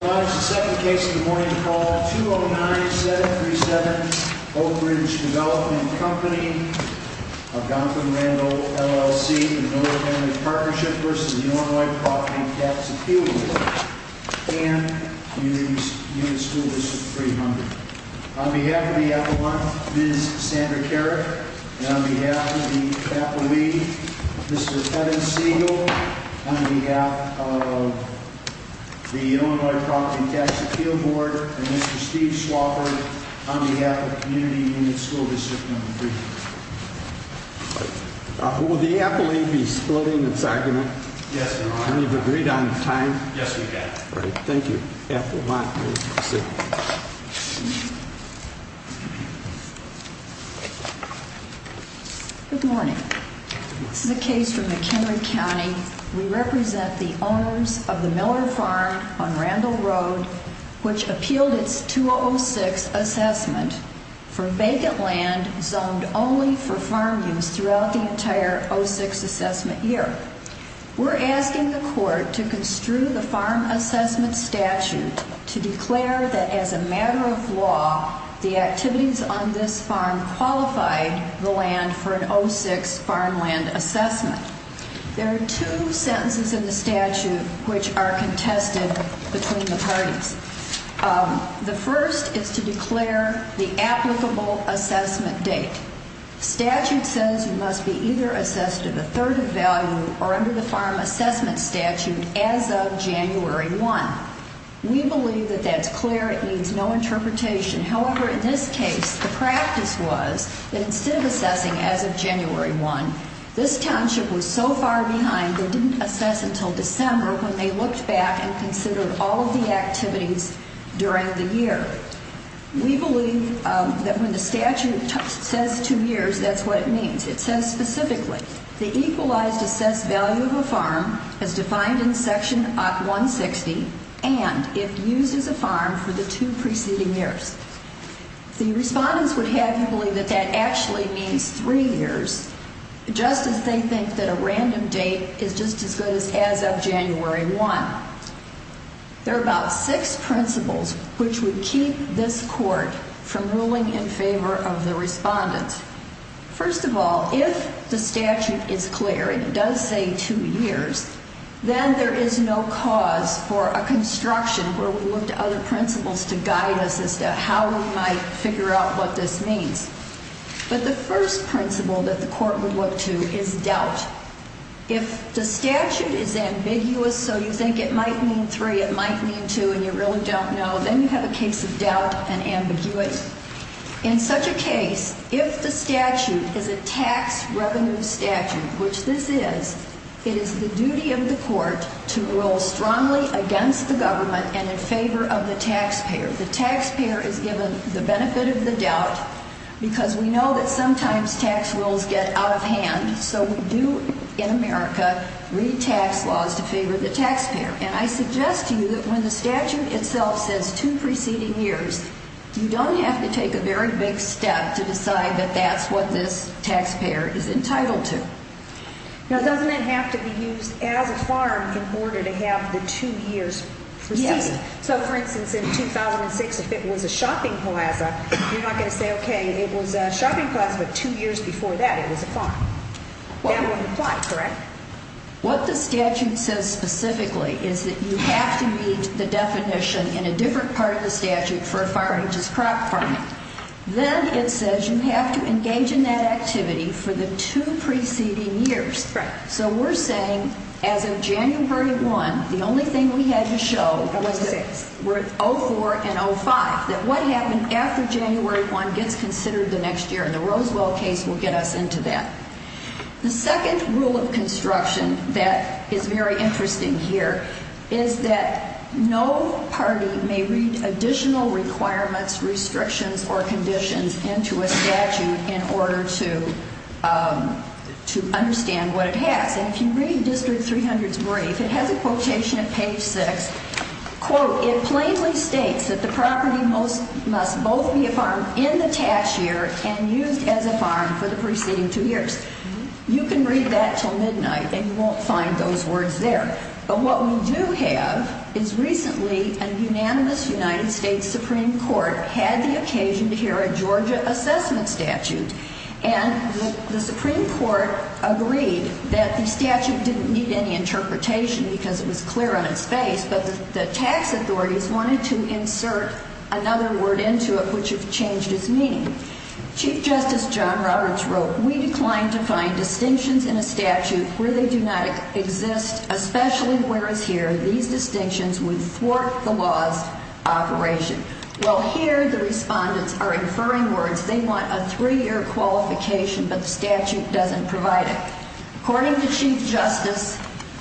I rise to second the case of the morning call, 209-737 Oakridge Development Company, Algonquin-Randall LLC, Illinois Family Partnership v. Illinois Property Tax Appeal Board, and Union School District 300. On behalf of the Appalachians, Ms. Sandra Carrick, and on behalf of the Appalachians, Mr. Kevin Siegel, on behalf of the Illinois Property Tax Appeal Board, and Mr. Steve Swofford, on behalf of Community Unit School District number three. Will the Appalachians be splitting its argument? Yes, Your Honor. And you've agreed on time? Yes, we have. All right, thank you. Appalachians, sit. Good morning. This is a case from McHenry County. We represent the owners of the Miller Farm on Randall Road, which appealed its 206 assessment for vacant land zoned only for farm use throughout the entire 06 assessment year. We're asking the court to construe the farm assessment statute to declare that as a matter of law, the activities on this farm qualified the land for an 06 farmland assessment. There are two sentences in the statute which are contested between the parties. The first is to declare the applicable assessment date. Statute says you must be either assessed at a third of value or under the farm assessment statute as of January 1. We believe that that's clear. It needs no interpretation. However, in this case, the practice was that instead of assessing as of January 1, this township was so far behind, they didn't assess until December when they looked back and considered all of the activities during the year. We believe that when the statute says two years, that's what it means. It says specifically, the equalized assessed value of a farm is defined in Section 160 and if used as a farm for the two preceding years. The respondents would have you believe that that actually means three years, just as they think that a random date is just as good as as of January 1. There are about six principles which would keep this court from ruling in favor of the respondents. First of all, if the statute is clear, it does say two years, then there is no cause for a construction where we look to other principles to guide us as to how we might figure out what this means. But the first principle that the court would look to is doubt. If the statute is ambiguous, so you think it might mean three, it might mean two, and you really don't know, then you have a case of doubt and ambiguity. In such a case, if the statute is a tax revenue statute, which this is, it is the duty of the court to rule strongly against the government and in favor of the taxpayer. The taxpayer is given the benefit of the doubt because we know that sometimes tax rules get out of hand, so we do in America read tax laws to favor the taxpayer. And I suggest to you that when the statute itself says two preceding years, you don't have to take a very big step to decide that that's what this taxpayer is entitled to. Now, doesn't it have to be used as a farm in order to have the two years preceding? Yes. So, for instance, in 2006, if it was a shopping plaza, you're not going to say, okay, it was a shopping plaza, but two years before that it was a farm. That wouldn't apply, correct? Correct. What the statute says specifically is that you have to read the definition in a different part of the statute for a farm, which is crop farming. Then it says you have to engage in that activity for the two preceding years. Right. So we're saying as of January 1, the only thing we had to show was that we're at 04 and 05, that what happened after January 1 gets considered the next year, and the Rosewell case will get us into that. The second rule of construction that is very interesting here is that no party may read additional requirements, restrictions, or conditions into a statute in order to understand what it has. And if you read District 300's brief, it has a quotation at page 6, it plainly states that the property must both be a farm in the tax year and used as a farm for the preceding two years. You can read that until midnight, and you won't find those words there. But what we do have is recently a unanimous United States Supreme Court had the occasion to hear a Georgia assessment statute, and the Supreme Court agreed that the statute didn't need any interpretation because it was clear on its face, but the tax authorities wanted to insert another word into it which changed its meaning. Chief Justice John Roberts wrote, We declined to find distinctions in a statute where they do not exist, especially whereas here, these distinctions would thwart the law's operation. Well, here the respondents are inferring words. They want a three-year qualification, but the statute doesn't provide it. According to Chief Justice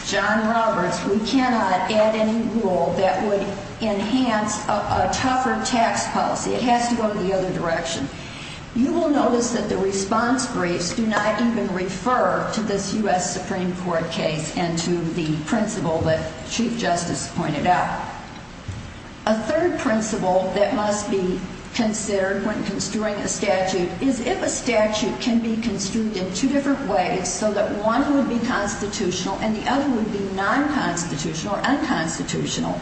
John Roberts, we cannot add any rule that would enhance a tougher tax policy. It has to go in the other direction. You will notice that the response briefs do not even refer to this U.S. Supreme Court case and to the principle that Chief Justice pointed out. A third principle that must be considered when construing a statute is if a statute can be construed in two different ways so that one would be constitutional and the other would be non-constitutional or unconstitutional,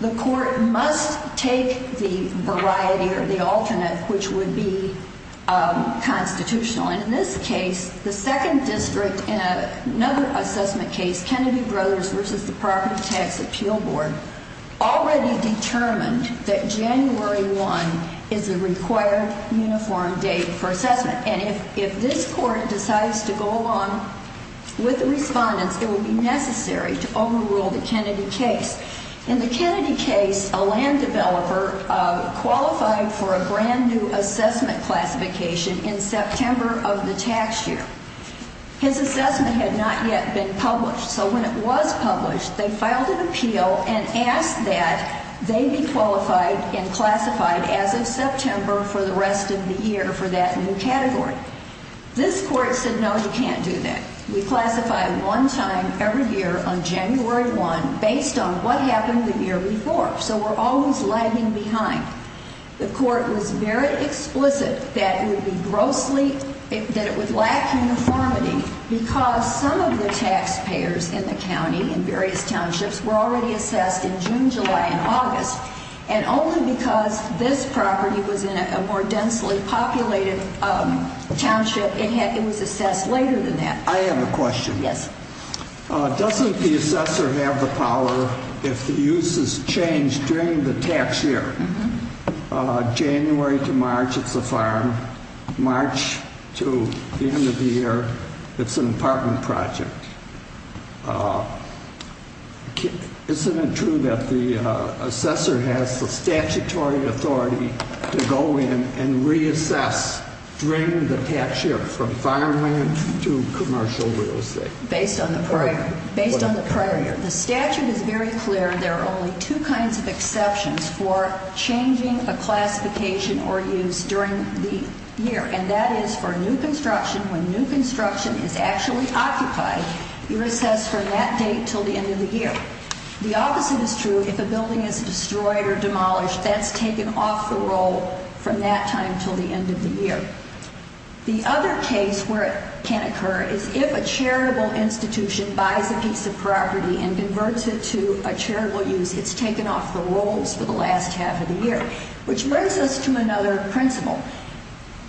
the court must take the variety or the alternate which would be constitutional. And in this case, the second district in another assessment case, Kennedy Brothers v. the Property Tax Appeal Board, already determined that January 1 is the required uniform date for assessment. And if this court decides to go along with the respondents, it will be necessary to overrule the Kennedy case. In the Kennedy case, a land developer qualified for a brand-new assessment classification in September of the tax year. His assessment had not yet been published, so when it was published, they filed an appeal and asked that they be qualified and classified as of September for the rest of the year for that new category. This court said, no, you can't do that. We classify one time every year on January 1 based on what happened the year before, so we're always lagging behind. The court was very explicit that it would be grossly, that it would lack uniformity because some of the taxpayers in the county in various townships were already assessed in June, July, and August, and only because this property was in a more densely populated township, it was assessed later than that. I have a question. Yes. Doesn't the assessor have the power, if the use has changed during the tax year, January to March it's a farm, March to the end of the year, it's an apartment project. Isn't it true that the assessor has the statutory authority to go in and reassess during the tax year from farmland to commercial real estate? Based on the prior year. Based on the prior year. The statute is very clear. There are only two kinds of exceptions for changing a classification or use during the year, and that is for new construction, when new construction is actually occupied, you recess from that date until the end of the year. The opposite is true if a building is destroyed or demolished, that's taken off the roll from that time until the end of the year. The other case where it can occur is if a charitable institution buys a piece of property and converts it to a charitable use, it's taken off the rolls for the last half of the year, which brings us to another principle.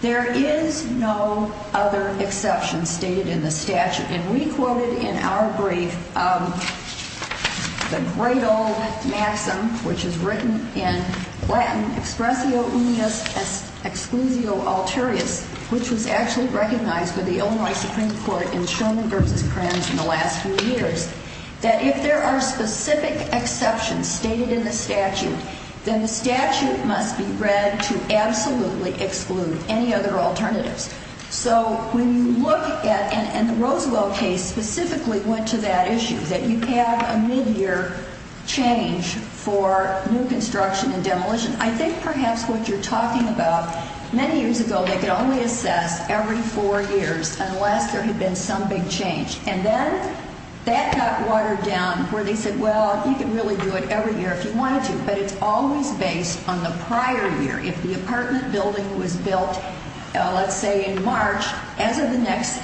There is no other exception stated in the statute, and we quoted in our brief the great old maxim, which is written in Latin, expressio unius exclusio alterius, which was actually recognized by the Illinois Supreme Court in Sherman v. Kranz in the last few years, that if there are specific exceptions stated in the statute, then the statute must be read to absolutely exclude any other alternatives. So when you look at, and the Rosewell case specifically went to that issue, that you have a midyear change for new construction and demolition, I think perhaps what you're talking about, many years ago they could only assess every four years unless there had been some big change, and then that got watered down where they said, well, you could really do it every year if you wanted to, but it's always based on the prior year. If the apartment building was built, let's say, in March, as of the next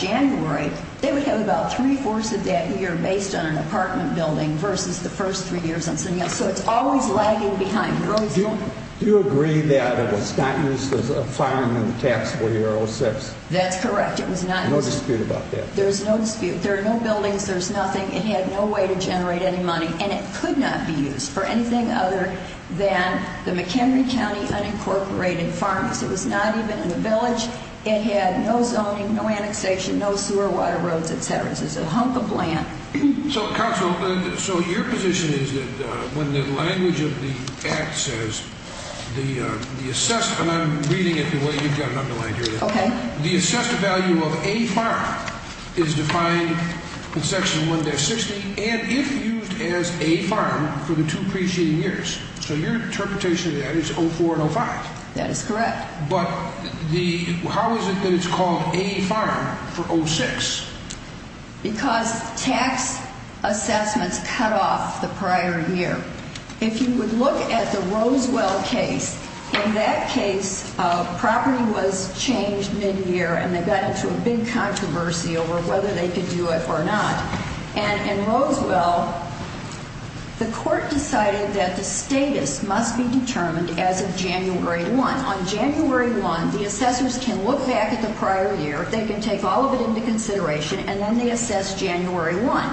January, they would have about three-fourths of that year based on an apartment building versus the first three years on something else. So it's always lagging behind. Do you agree that it was not used as a filing in the taxable year 06? That's correct. It was not used. No dispute about that? There's no dispute. There are no buildings. There's nothing. It had no way to generate any money, and it could not be used for anything other than the McHenry County Unincorporated Farms. It was not even in the village. It had no zoning, no annexation, no sewer water roads, et cetera. It was a hunk of land. So, Counsel, so your position is that when the language of the Act says the assessed, and I'm reading it the way you've got it underlined here. Okay. The assessed value of a farm is defined in Section 1-60 and if used as a farm for the two preceding years. So your interpretation of that is 04 and 05. That is correct. But how is it that it's called a farm for 06? Because tax assessments cut off the prior year. If you would look at the Rosewell case, in that case property was changed mid-year and they got into a big controversy over whether they could do it or not. And in Rosewell, the court decided that the status must be determined as of January 1. On January 1, the assessors can look back at the prior year, they can take all of it into consideration, and then they assess January 1.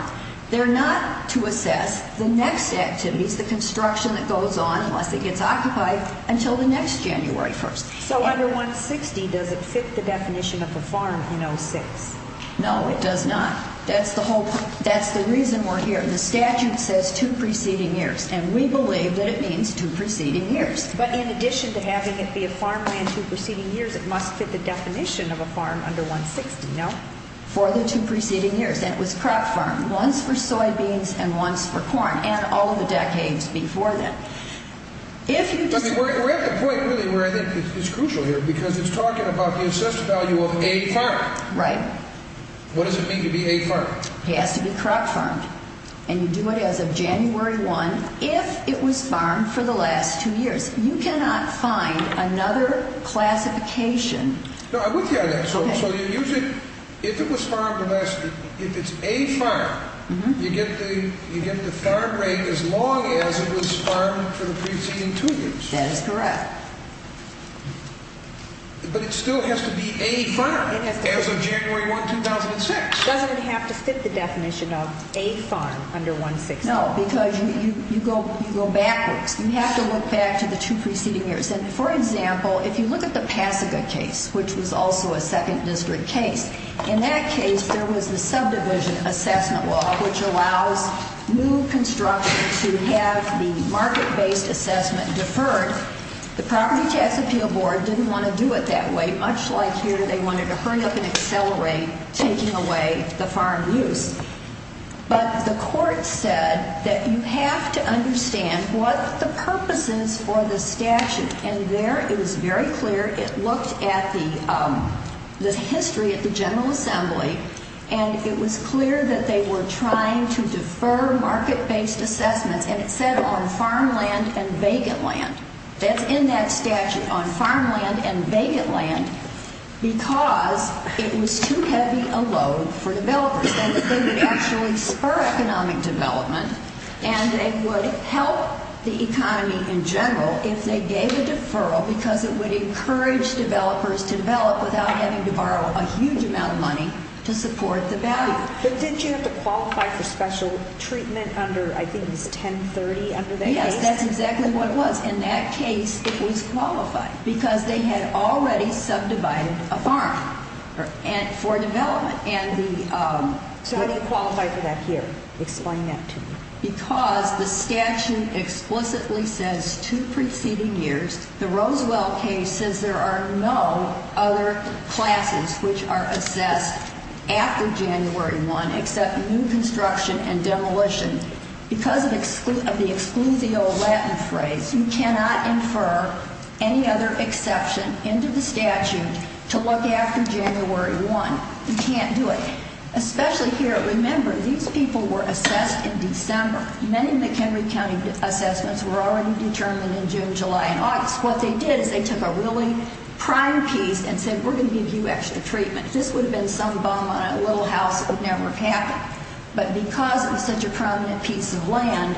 They're not to assess the next activities, the construction that goes on unless it gets occupied until the next January 1. So under 1-60, does it fit the definition of a farm in 06? No, it does not. That's the reason we're here. The statute says two preceding years, and we believe that it means two preceding years. But in addition to having it be a farmland two preceding years, it must fit the definition of a farm under 1-60, no? For the two preceding years. Once for soybeans and once for corn, and all of the decades before that. We're at the point really where I think it's crucial here because it's talking about the assessed value of a farm. Right. What does it mean to be a farm? It has to be crop farmed. And you do it as of January 1 if it was farmed for the last two years. You cannot find another classification. No, I'm with you on that. So you're using, if it was farmed the last, if it's a farm, you get the farm rate as long as it was farmed for the preceding two years. That is correct. But it still has to be a farm as of January 1, 2006. Doesn't it have to fit the definition of a farm under 1-60? No, because you go backwards. You have to look back to the two preceding years. And, for example, if you look at the Pasaga case, which was also a second district case, in that case there was the subdivision assessment law, which allows new construction to have the market-based assessment deferred. The Property Tax Appeal Board didn't want to do it that way, much like here they wanted to hurry up and accelerate taking away the farm use. But the court said that you have to understand what the purpose is for the statute. And there it was very clear. It looked at the history at the General Assembly, and it was clear that they were trying to defer market-based assessments. And it said on farmland and vacant land. That's in that statute, on farmland and vacant land, because it was too heavy a load for developers. And it would actually spur economic development, and it would help the economy in general if they gave a deferral, because it would encourage developers to develop without having to borrow a huge amount of money to support the value. But didn't you have to qualify for special treatment under, I think it was 10-30 under that case? Yes, that's exactly what it was. In that case, it was qualified, because they had already subdivided a farm for development. So how do you qualify for that here? Explain that to me. Because the statute explicitly says two preceding years. The Rosewell case says there are no other classes which are assessed after January 1 except new construction and demolition. Because of the exclusio Latin phrase, you cannot infer any other exception into the statute to look after January 1. You can't do it. Especially here. Remember, these people were assessed in December. Many of the McHenry County assessments were already determined in June, July, and August. What they did is they took a really prime piece and said, we're going to give you extra treatment. This would have been some bum on a little house that would never have happened. But because it was such a prominent piece of land,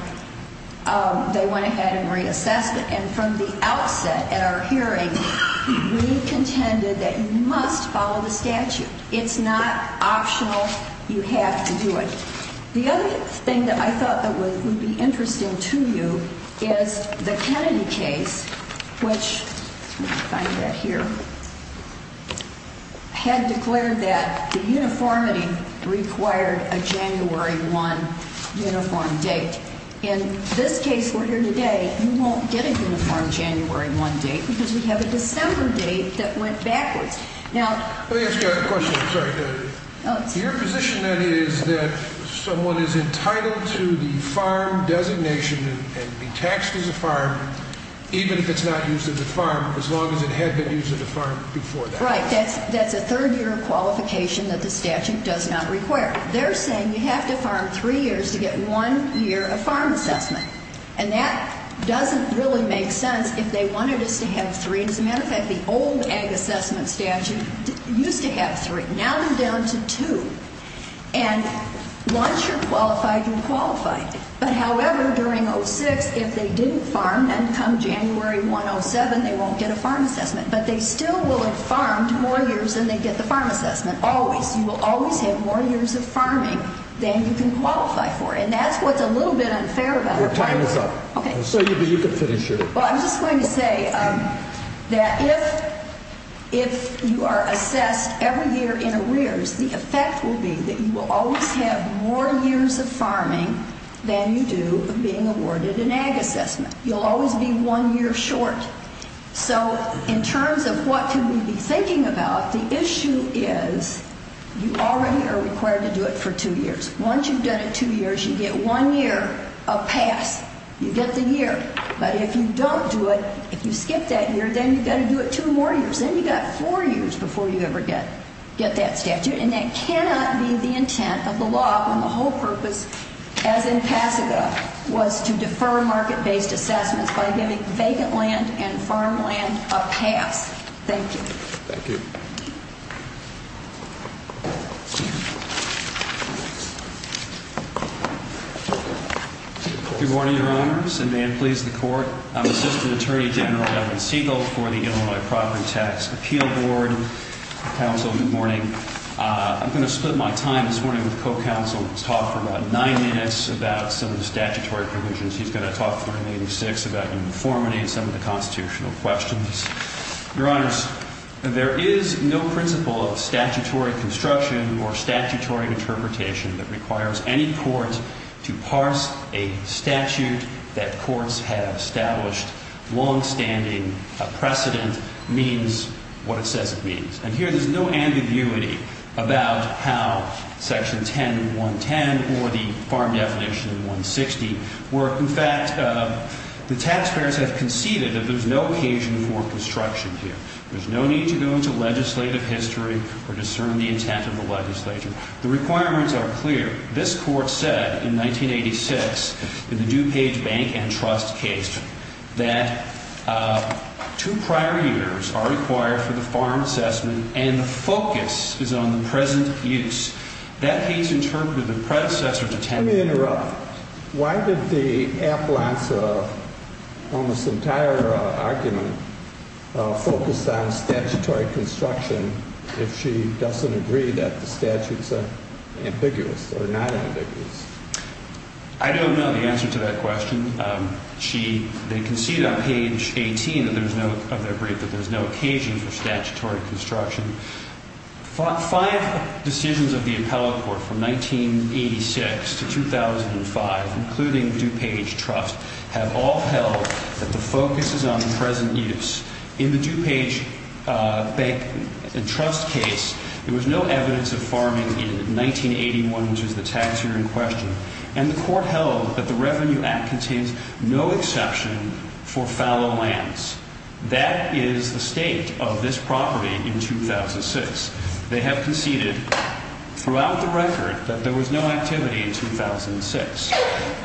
they went ahead and reassessed it. And from the outset at our hearing, we contended that you must follow the statute. It's not optional. You have to do it. The other thing that I thought would be interesting to you is the Kennedy case, which had declared that the uniformity required a January 1 uniform date. In this case we're here today, you won't get a uniform January 1 date because we have a December date that went backwards. Let me ask you a question. Your position then is that someone is entitled to the farm designation and be taxed as a farm even if it's not used as a farm, as long as it had been used as a farm before that. Right. That's a third-year qualification that the statute does not require. They're saying you have to farm three years to get one year of farm assessment. And that doesn't really make sense if they wanted us to have three. As a matter of fact, the old ag assessment statute used to have three. Now they're down to two. And once you're qualified, you're qualified. But, however, during 06, if they didn't farm, then come January 107, they won't get a farm assessment. But they still will have farmed more years than they get the farm assessment, always. You will always have more years of farming than you can qualify for. And that's what's a little bit unfair about it. Your time is up. Okay. So you can finish it. Well, I'm just going to say that if you are assessed every year in arrears, the effect will be that you will always have more years of farming than you do of being awarded an ag assessment. You'll always be one year short. So in terms of what can we be thinking about, the issue is you already are required to do it for two years. Once you've done it two years, you get one year of pass. You get the year. But if you don't do it, if you skip that year, then you've got to do it two more years. Then you've got four years before you ever get that statute. And that cannot be the intent of the law when the whole purpose, as in Pasadena, was to defer market-based assessments by giving vacant land and farmland a pass. Thank you. Thank you. Good morning, Your Honors, and may it please the Court. I'm Assistant Attorney General Evan Siegel for the Illinois Property Tax Appeal Board. Counsel, good morning. I'm going to split my time this morning with the co-counsel. He's going to talk for about nine minutes about some of the statutory provisions. He's going to talk for another six about uniformity and some of the constitutional questions. Your Honors, there is no principle of statutory construction or statutory interpretation that requires any court to parse a statute that courts have established. And here there's no ambiguity about how Section 10 and 110 or the farm definition in 160 work. In fact, the taxpayers have conceded that there's no occasion for construction here. There's no need to go into legislative history or discern the intent of the legislature. The requirements are clear. This Court said in 1986 in the DuPage Bank and Trust case that two prior years are required for the farm assessment and the focus is on the present use. That case interpreted the predecessor to 10 years. Let me interrupt. Why did the appellant's almost entire argument focus on statutory construction if she doesn't agree that the statutes are ambiguous or not ambiguous? I don't know the answer to that question. They concede on page 18 of their brief that there's no occasion for statutory construction. Five decisions of the appellate court from 1986 to 2005, including DuPage Trust, have all held that the focus is on the present use. In the DuPage Bank and Trust case, there was no evidence of farming in 1981, which was the tax year in question, and the court held that the Revenue Act contains no exception for fallow lands. That is the state of this property in 2006. They have conceded throughout the record that there was no activity in 2006.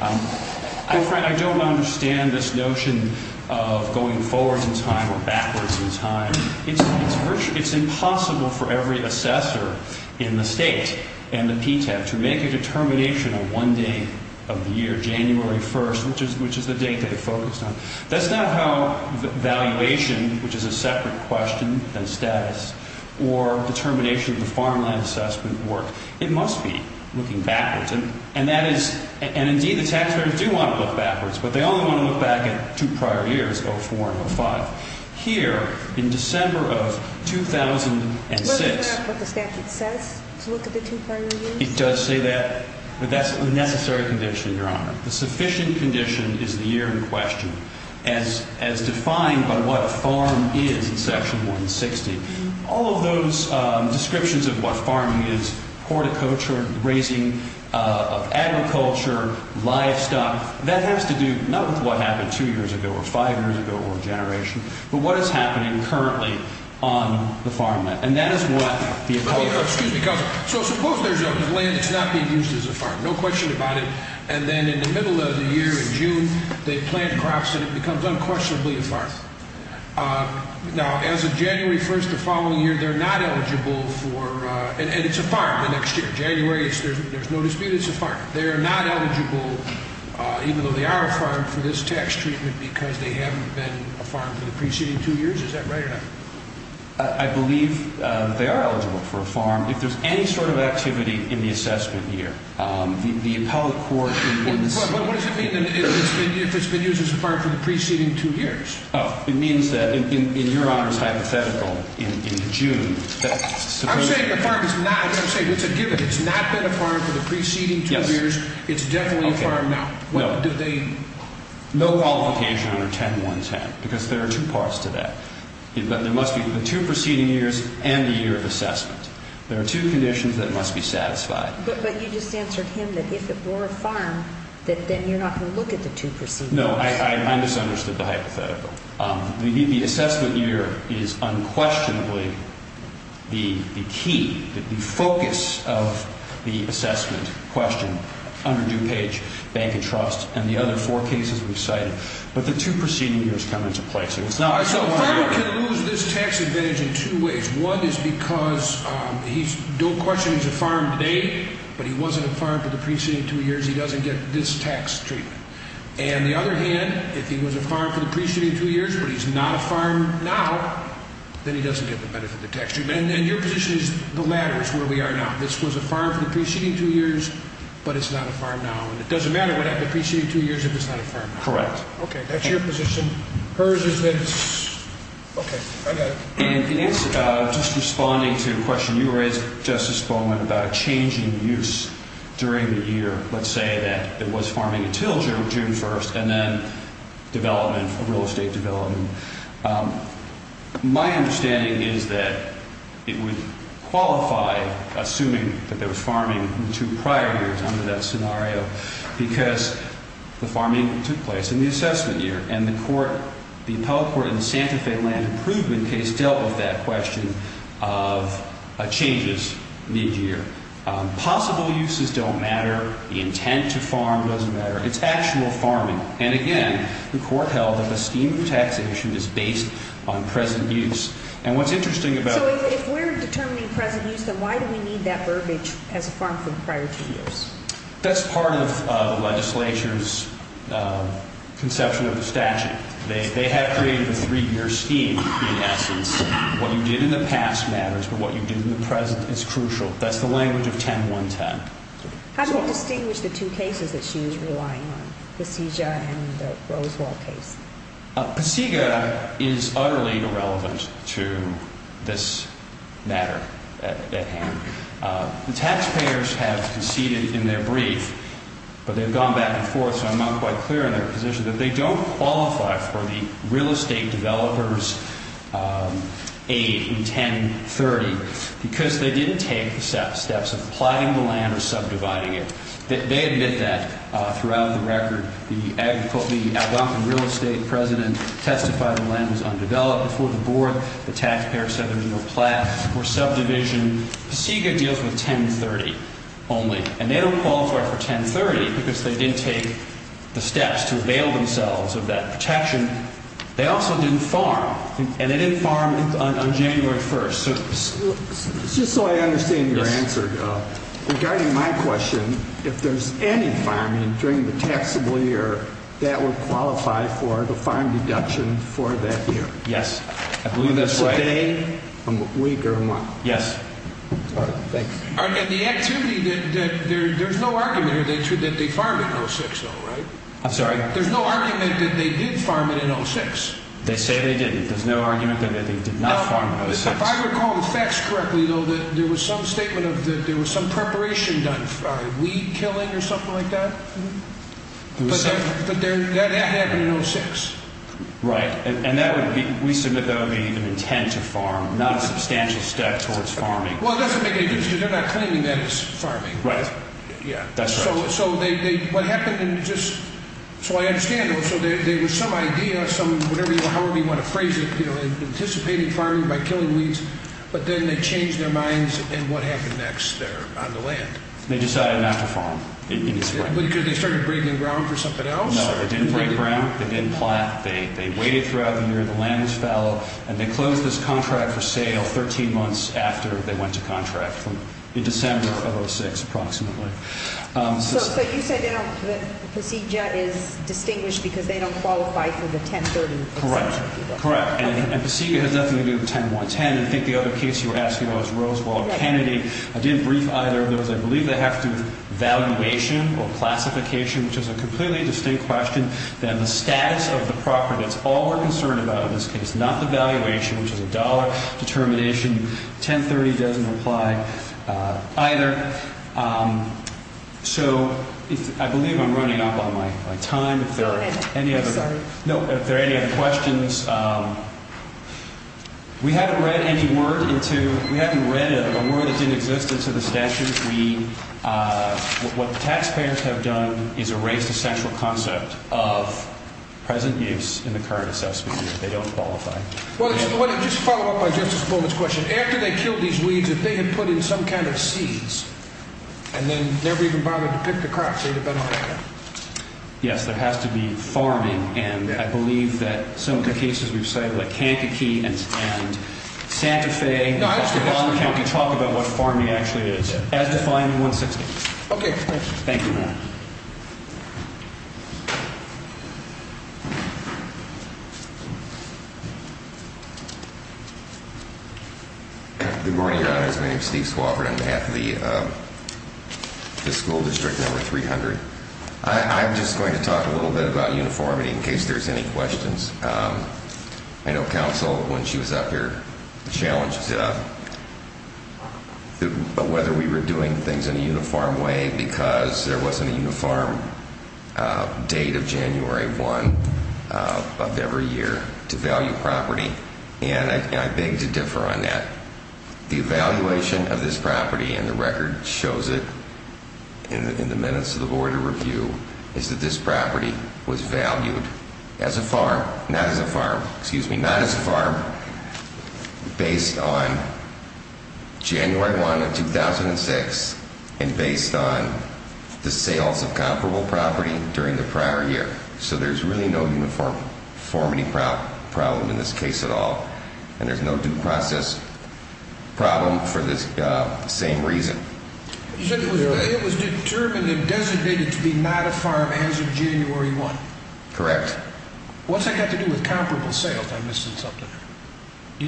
I don't understand this notion of going forwards in time or backwards in time. It's impossible for every assessor in the state and the PTAB to make a determination on one day of the year, January 1st, which is the date they focused on. That's not how valuation, which is a separate question than status, or determination of the farmland assessment work. It must be looking backwards. And, indeed, the taxpayers do want to look backwards, but they only want to look back at two prior years, 2004 and 2005. Here, in December of 2006... Does it say what the statute says to look at the two prior years? It does say that, but that's a necessary condition, Your Honor. The sufficient condition is the year in question, as defined by what a farm is in Section 160. All of those descriptions of what farming is, horticulture, raising of agriculture, livestock, that has to do not with what happened two years ago or five years ago or a generation, but what is happening currently on the farmland. And that is what the appellate... Excuse me, Counselor. So suppose there's a land that's not being used as a farm, no question about it, and then in the middle of the year, in June, they plant crops and it becomes unquestionably a farm. Now, as of January 1st, the following year, they're not eligible for... And it's a farm. In January, there's no dispute, it's a farm. They're not eligible, even though they are a farm, for this tax treatment because they haven't been a farm for the preceding two years? Is that right or not? I believe they are eligible for a farm if there's any sort of activity in the assessment year. The appellate court... But what does it mean if it's been used as a farm for the preceding two years? It means that, in Your Honor's hypothetical, in June... I'm saying the farm is not. I'm saying it's a given. If it's not been a farm for the preceding two years, it's definitely a farm now. No qualification under 10110 because there are two parts to that. There must be the two preceding years and the year of assessment. There are two conditions that must be satisfied. But you just answered him that if it were a farm, then you're not going to look at the two preceding years. No, I misunderstood the hypothetical. The assessment year is unquestionably the key, the focus of the assessment question under DuPage, bank and trust, and the other four cases we've cited. But the two preceding years come into play, so it's not... So a farmer can lose this tax advantage in two ways. One is because he's, don't question he's a farm today, but he wasn't a farm for the preceding two years, he doesn't get this tax treatment. And the other hand, if he was a farm for the preceding two years, but he's not a farm now, then he doesn't get the benefit of the tax treatment. And your position is the latter is where we are now. This was a farm for the preceding two years, but it's not a farm now. And it doesn't matter what happened in the preceding two years if it's not a farm now. Correct. Okay, that's your position. Hers is that it's... Okay, I got it. And just responding to a question you raised, Justice Bowman, about a change in use during the year. Let's say that it was farming until June 1st, and then development, real estate development. My understanding is that it would qualify, assuming that there was farming in the two prior years under that scenario, because the farming took place in the assessment year, and the appellate court in the Santa Fe land improvement case dealt with that question of changes in each year. Possible uses don't matter. The intent to farm doesn't matter. It's actual farming. And, again, the court held that the scheme of taxation is based on present use. And what's interesting about... So if we're determining present use, then why do we need that verbiage as a farm for the prior two years? That's part of the legislature's conception of the statute. They have created a three-year scheme, in essence. What you did in the past matters, but what you did in the present is crucial. That's the language of 10.1.10. How do you distinguish the two cases that she was relying on, the Pasega and the Rosewall case? Pasega is utterly irrelevant to this matter at hand. The taxpayers have conceded in their brief, but they've gone back and forth, so I'm not quite clear on their position, that they don't qualify for the real estate developers' aid in 10.30 because they didn't take the steps of plotting the land or subdividing it. They admit that throughout the record. The Algonquin real estate president testified the land was undeveloped before the board. The taxpayers said there was no plot or subdivision. Pasega deals with 10.30 only, and they don't qualify for 10.30 because they didn't take the steps to avail themselves of that protection. They also didn't farm, and they didn't farm on January 1st. Just so I understand your answer, regarding my question, if there's any farming during the taxable year that would qualify for the farm deduction for that year? Yes, I believe that's right. It's a day, a week, or a month? Yes. All right, thanks. And the activity, there's no argument here that they farmed in 06, though, right? I'm sorry? There's no argument that they did farm it in 06. They say they didn't. There's no argument that they did not farm it in 06. If I recall the facts correctly, though, there was some statement that there was some preparation done. Weed killing or something like that? Mm-hmm. But that happened in 06. Right, and we submit that would be an intent to farm, not a substantial step towards farming. Well, it doesn't make any sense because they're not claiming that as farming. Right. Yeah. That's right. So I understand, though, so there was some idea, whatever you want to phrase it, anticipating farming by killing weeds, but then they changed their minds, and what happened next there on the land? They decided not to farm. Because they started breaking ground for something else? No, they didn't break ground. They didn't plot. They waited throughout the year. The land was fallow, and they closed this contract for sale 13 months after they went to contract in December of 06, approximately. So you said that Procedure is distinguished because they don't qualify for the 1030 exemption? Correct. Correct. And Procedure has nothing to do with 1010. I think the other case you were asking about was Rosewall-Kennedy. I didn't brief either of those. I believe they have to do with valuation or classification, which is a completely distinct question. Then the status of the property, that's all we're concerned about in this case, not the valuation, which is a dollar determination. 1030 doesn't apply either. So I believe I'm running up on my time. Sorry. If there are any other questions, we haven't read any word into—we haven't read a word that didn't exist into the statute. What the taxpayers have done is erased the central concept of present use in the current assessment year. They don't qualify. Well, just to follow up on Justice Bowman's question, after they killed these weeds, if they had put in some kind of seeds and then never even bothered to pick the crops, they would have been all right. Yes. There has to be farming. And I believe that some of the cases we've cited, like Kankakee and Santa Fe— No, I was going to ask— —in Auburn County talk about what farming actually is. As defined in 160. Okay. Thank you, Your Honor. Good morning, Your Honor. My name is Steve Swofford. I'm on behalf of the school district number 300. I'm just going to talk a little bit about uniformity in case there's any questions. I know counsel, when she was up here, challenged whether we were doing things in a uniform way because there wasn't a uniform date of January 1 of every year to value property. And I beg to differ on that. The evaluation of this property, and the record shows it in the minutes of the Board of Review, is that this property was valued as a farm—not as a farm, excuse me, not as a farm—based on January 1 of 2006 and based on the sales of comparable property during the prior year. So there's really no uniformity problem in this case at all. And there's no due process problem for this same reason. You said it was determined and designated to be not a farm as of January 1. Correct. What's that got to do with comparable sales? I'm missing something.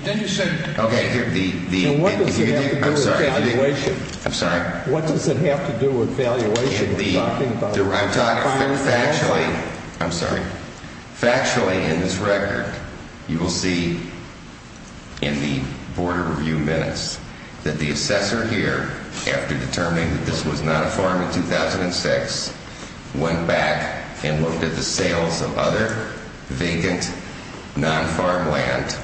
Then you said— Okay. The— What does it have to do with valuation? I'm sorry? What does it have to do with valuation? I'm talking factually—I'm sorry. Factually, in this record, you will see in the Board of Review minutes that the assessor here, after determining that this was not a farm in 2006, went back and looked at the sales of other vacant non-farm land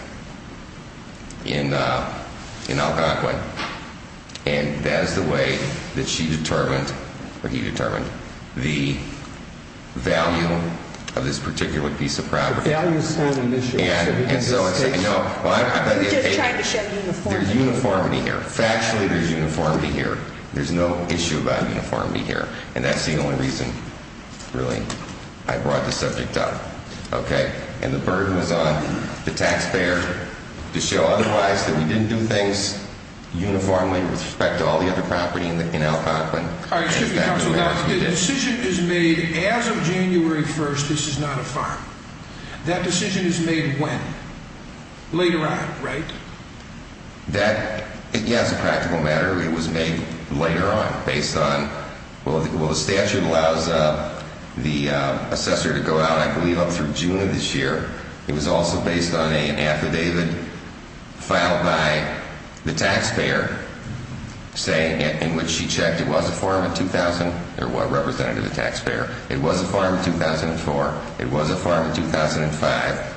in Algonquin. And that is the way that she determined, or he determined, the value of this particular piece of property. The value is not an issue. And so it's— We just tried to show uniformity. There's uniformity here. Factually, there's uniformity here. There's no issue about uniformity here. And that's the only reason, really, I brought the subject up. Okay? And the burden was on the taxpayer to show otherwise, that we didn't do things uniformly with respect to all the other property in Algonquin. All right. Excuse me, counsel. The decision is made as of January 1st, this is not a farm. That decision is made when? Later on, right? That—yes, a practical matter. It was made later on, based on—well, the statute allows the assessor to go out, I believe, up through June of this year. It was also based on an affidavit filed by the taxpayer saying—in which she checked it was a farm in 2000—or representative of the taxpayer. It was a farm in 2004. It was a farm in 2005.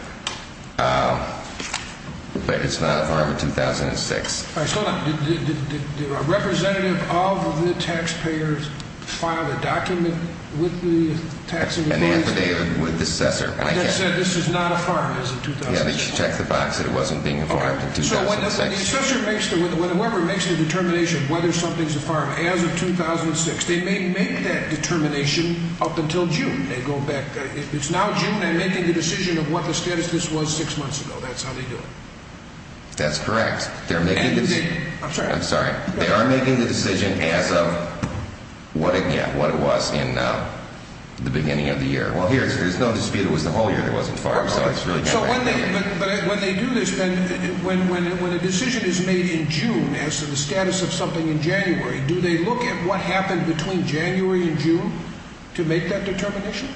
But it's not a farm in 2006. All right. Hold on. Did a representative of the taxpayers file a document with the tax— An affidavit with the assessor. Like I said, this is not a farm as of 2006. Yeah, they checked the box that it wasn't being a farm in 2006. Okay. So when the assessor makes the—when whoever makes the determination whether something's a farm as of 2006, they may make that determination up until June. They go back—it's now June. They're making the decision of what the status of this was six months ago. That's how they do it. That's correct. They're making the— I'm sorry. I'm sorry. They are making the decision as of what it—yeah, what it was in the beginning of the year. Well, here, there's no dispute it was the whole year it wasn't farmed. Perfect. So when they do this, then, when a decision is made in June as to the status of something in January, do they look at what happened between January and June to make that determination?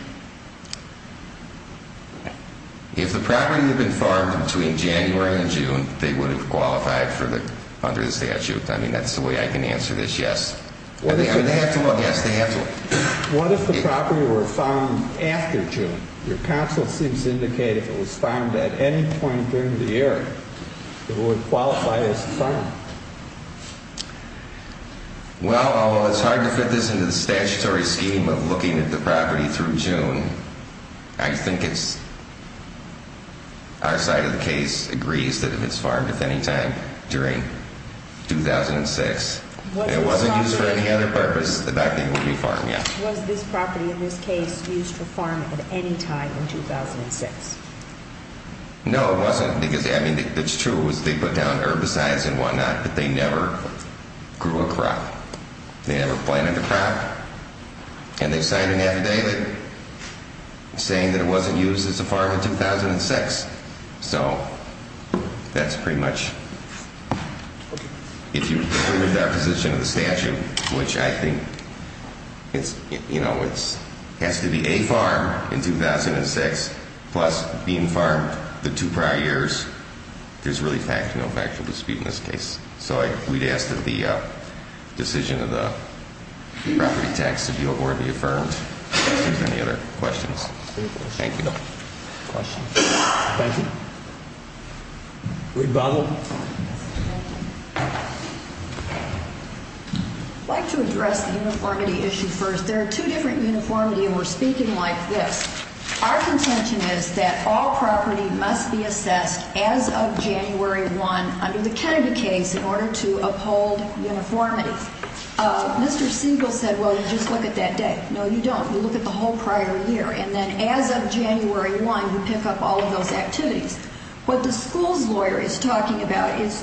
If the property had been farmed between January and June, they would have qualified for the—under the statute. I mean, that's the way I can answer this, yes. They have to look. Yes, they have to look. What if the property were farmed after June? Your counsel seems to indicate if it was farmed at any point during the year, it would qualify as farmed. Well, although it's hard to fit this into the statutory scheme of looking at the property through June, I think it's—our side of the case agrees that if it's farmed at any time during 2006, and it wasn't used for any other purpose, the fact that it would be farmed, yeah. Was this property, in this case, used to farm at any time in 2006? No, it wasn't, because, I mean, it's true, they put down herbicides and whatnot, but they never grew a crop. They never planted a crop. And they signed an affidavit saying that it wasn't used as a farm in 2006. So that's pretty much—if you look at the position of the statute, which I think, you know, it has to be a farm in 2006, plus being farmed the two prior years, there's really no factual dispute in this case. So we'd ask that the decision of the property tax to be abhorrently affirmed. Any other questions? Thank you. Rebuttal. I'd like to address the uniformity issue first. There are two different uniformities, and we're speaking like this. Our contention is that all property must be assessed as of January 1 under the Kennedy case in order to uphold uniformity. Mr. Siegel said, well, you just look at that day. No, you don't. You look at the whole prior year. And then as of January 1, you pick up all of those activities. What the school's lawyer is talking about is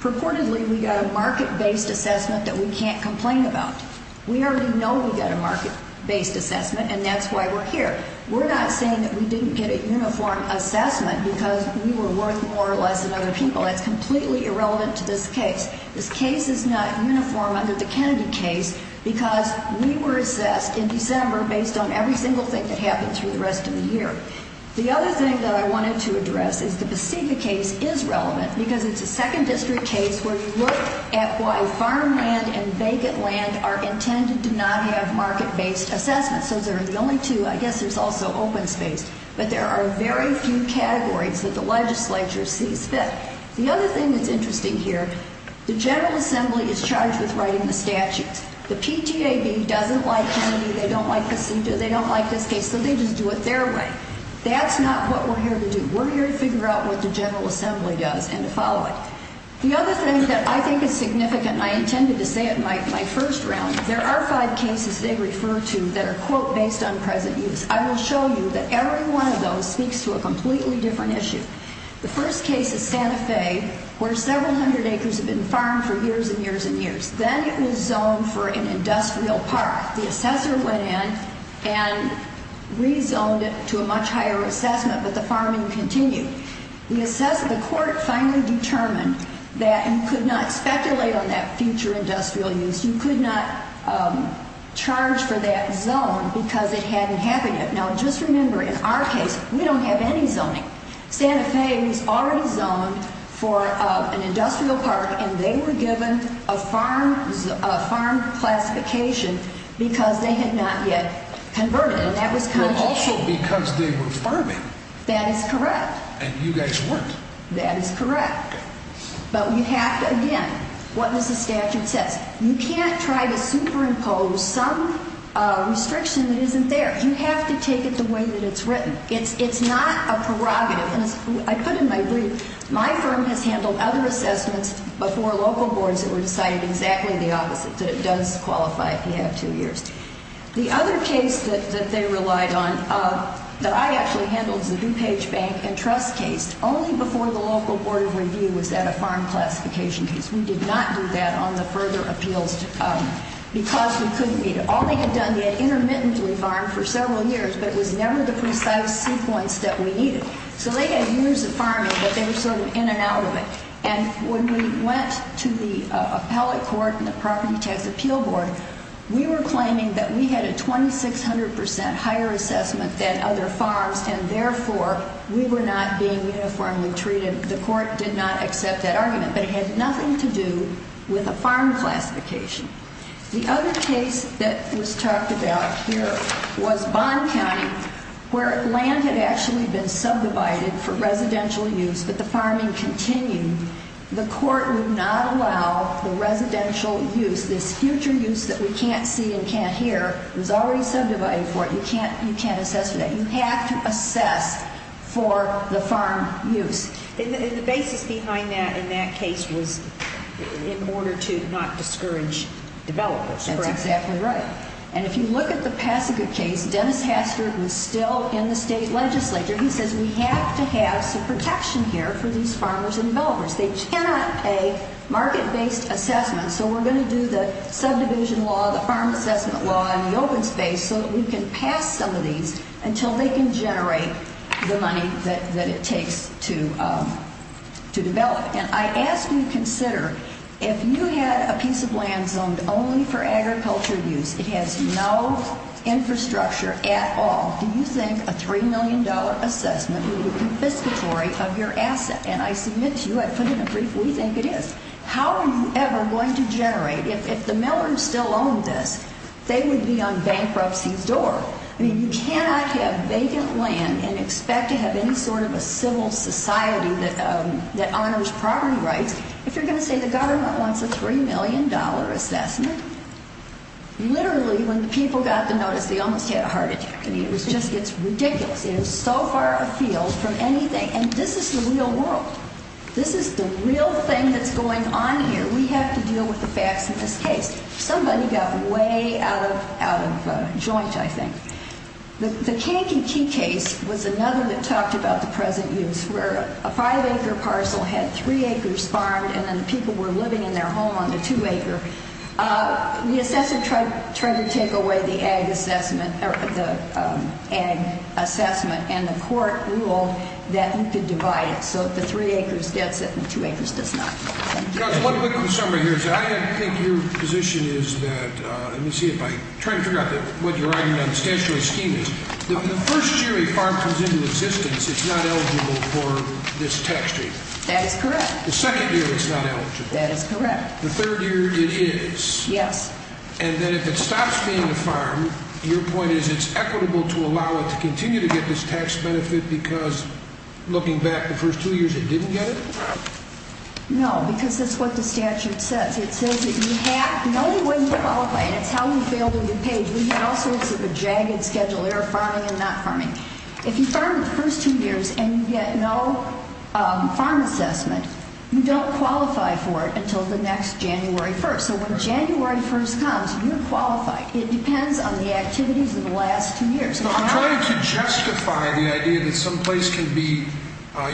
purportedly we got a market-based assessment that we can't complain about. We already know we got a market-based assessment, and that's why we're here. We're not saying that we didn't get a uniform assessment because we were worth more or less than other people. That's completely irrelevant to this case. This case is not uniform under the Kennedy case because we were assessed in December based on every single thing that happened through the rest of the year. The other thing that I wanted to address is the Besika case is relevant because it's a second district case where you look at why farmland and vacant land are intended to not have market-based assessments. So there are only two. I guess there's also open space. But there are very few categories that the legislature sees fit. The other thing that's interesting here, the General Assembly is charged with writing the statutes. The PTAB doesn't like Kennedy. They don't like Besika. They don't like this case. So they just do it their way. That's not what we're here to do. We're here to figure out what the General Assembly does and to follow it. The other thing that I think is significant, and I intended to say it in my first round, there are five cases they refer to that are, quote, based on present use. I will show you that every one of those speaks to a completely different issue. The first case is Santa Fe, where several hundred acres have been farmed for years and years and years. Then it was zoned for an industrial park. The assessor went in and rezoned it to a much higher assessment, but the farming continued. The court finally determined that you could not speculate on that future industrial use. You could not charge for that zone because it hadn't happened yet. Now, just remember, in our case, we don't have any zoning. Santa Fe was already zoned for an industrial park, and they were given a farm classification because they had not yet converted. And that was constitutional. But also because they were farming. That is correct. And you guys weren't. That is correct. But you have to, again, what does the statute say? You can't try to superimpose some restriction that isn't there. You have to take it the way that it's written. It's not a prerogative. And as I put in my brief, my firm has handled other assessments before local boards that were decided exactly the opposite, that it does qualify if you have two years. The other case that they relied on that I actually handled is the DuPage Bank and Trust case. Only before the local board of review was that a farm classification case. We did not do that on the further appeals because we couldn't meet it. All they had done, they had intermittently farmed for several years, but it was never the precise sequence that we needed. So they had years of farming, but they were sort of in and out of it. And when we went to the appellate court and the property tax appeal board, we were claiming that we had a 2,600% higher assessment than other farms, and, therefore, we were not being uniformly treated. The court did not accept that argument, but it had nothing to do with a farm classification. The other case that was talked about here was Bond County, where land had actually been subdivided for residential use, but the farming continued. The court would not allow the residential use. This future use that we can't see and can't hear was already subdivided for it. You can't assess for that. You have to assess for the farm use. And the basis behind that in that case was in order to not discourage developers, correct? That's exactly right. And if you look at the Passika case, Dennis Hastert was still in the state legislature. He says we have to have some protection here for these farmers and developers. They cannot pay market-based assessments, so we're going to do the subdivision law, the farm assessment law, and the open space so that we can pass some of these until they can generate the money that it takes to develop. And I ask you to consider if you had a piece of land zoned only for agriculture use, it has no infrastructure at all, do you think a $3 million assessment would be confiscatory of your asset? And I submit to you, I put it in a brief, we think it is. How are you ever going to generate? If the Millers still owned this, they would be on bankruptcy's door. I mean, you cannot have vacant land and expect to have any sort of a civil society that honors property rights if you're going to say the government wants a $3 million assessment. Literally, when people got the notice, they almost had a heart attack. I mean, it was just, it's ridiculous. It is so far afield from anything. And this is the real world. This is the real thing that's going on here. We have to deal with the facts in this case. Somebody got way out of joint, I think. The Kankakee case was another that talked about the present use, where a five-acre parcel had three acres farmed and then people were living in their home on the two-acre. The assessor tried to take away the ag assessment and the court ruled that you could divide it so that the three acres gets it and the two acres does not. One quick summary here. I think your position is that, let me see if I, I'm trying to figure out what you're arguing on statutory scheming. The first year a farm comes into existence, it's not eligible for this tax treatment. That is correct. The second year, it's not eligible. That is correct. The third year, it is. Yes. And then if it stops being a farm, your point is it's equitable to allow it to continue to get this tax benefit because looking back the first two years, it didn't get it? No, because that's what the statute says. It says that you have no way to qualify, and it's how you fail to be paid. We have all sorts of a jagged schedule here, farming and not farming. If you farm the first two years and you get no farm assessment, you don't qualify for it until the next January 1st. So when January 1st comes, you're qualified. It depends on the activities of the last two years. I'm trying to justify the idea that some place can be –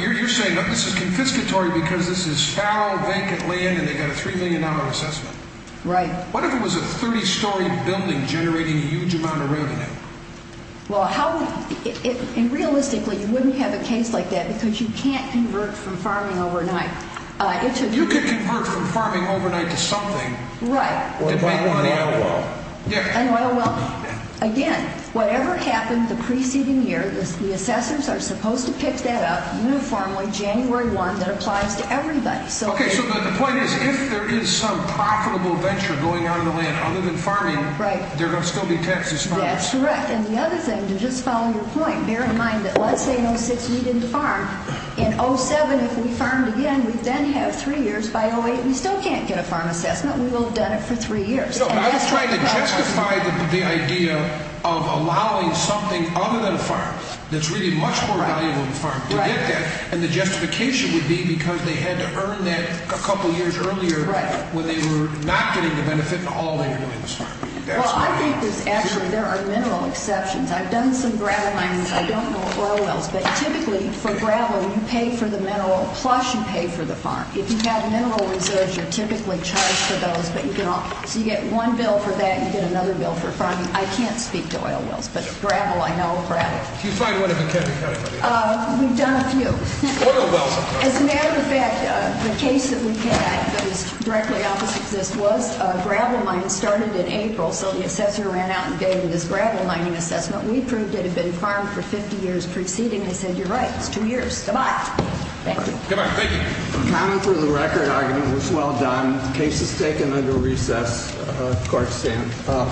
you're saying this is confiscatory because this is fallow, vacant land, and they've got a $3 million assessment. Right. What if it was a 30-story building generating a huge amount of revenue? Well, realistically, you wouldn't have a case like that because you can't convert from farming overnight. You could convert from farming overnight to something. Right. An oil well. An oil well. An oil well. Again, whatever happened the preceding year, the assessors are supposed to pick that up uniformly January 1 that applies to everybody. Okay, so the point is if there is some profitable venture going on in the land other than farming, there are still going to be taxes. That's correct. And the other thing, to just follow your point, bear in mind that let's say in 06 we didn't farm. In 07, if we farmed again, we then have three years. By 08, we still can't get a farm assessment. We will have done it for three years. I was trying to justify the idea of allowing something other than a farm that's really much more valuable than a farm to get that. And the justification would be because they had to earn that a couple of years earlier when they were not getting the benefit in all they were doing was farming. Well, I think there's actually – there are mineral exceptions. I've done some gravel mining. I don't know oil wells. But typically, for gravel, you pay for the mineral plus you pay for the farm. If you have mineral reserves, you're typically charged for those. But you can – so you get one bill for that and you get another bill for farming. I can't speak to oil wells, but gravel, I know, gravel. Can you find one in McKinley County, by the way? We've done a few. Oil wells, of course. As a matter of fact, the case that we had that was directly opposite to this was a gravel mine started in April. So the assessor ran out and gave this gravel mining assessment. We proved it had been farmed for 50 years preceding. They said, you're right, it's two years. Come on. Thank you. Accounting for the record argument was well done. Case is taken under recess. Court is adjourned.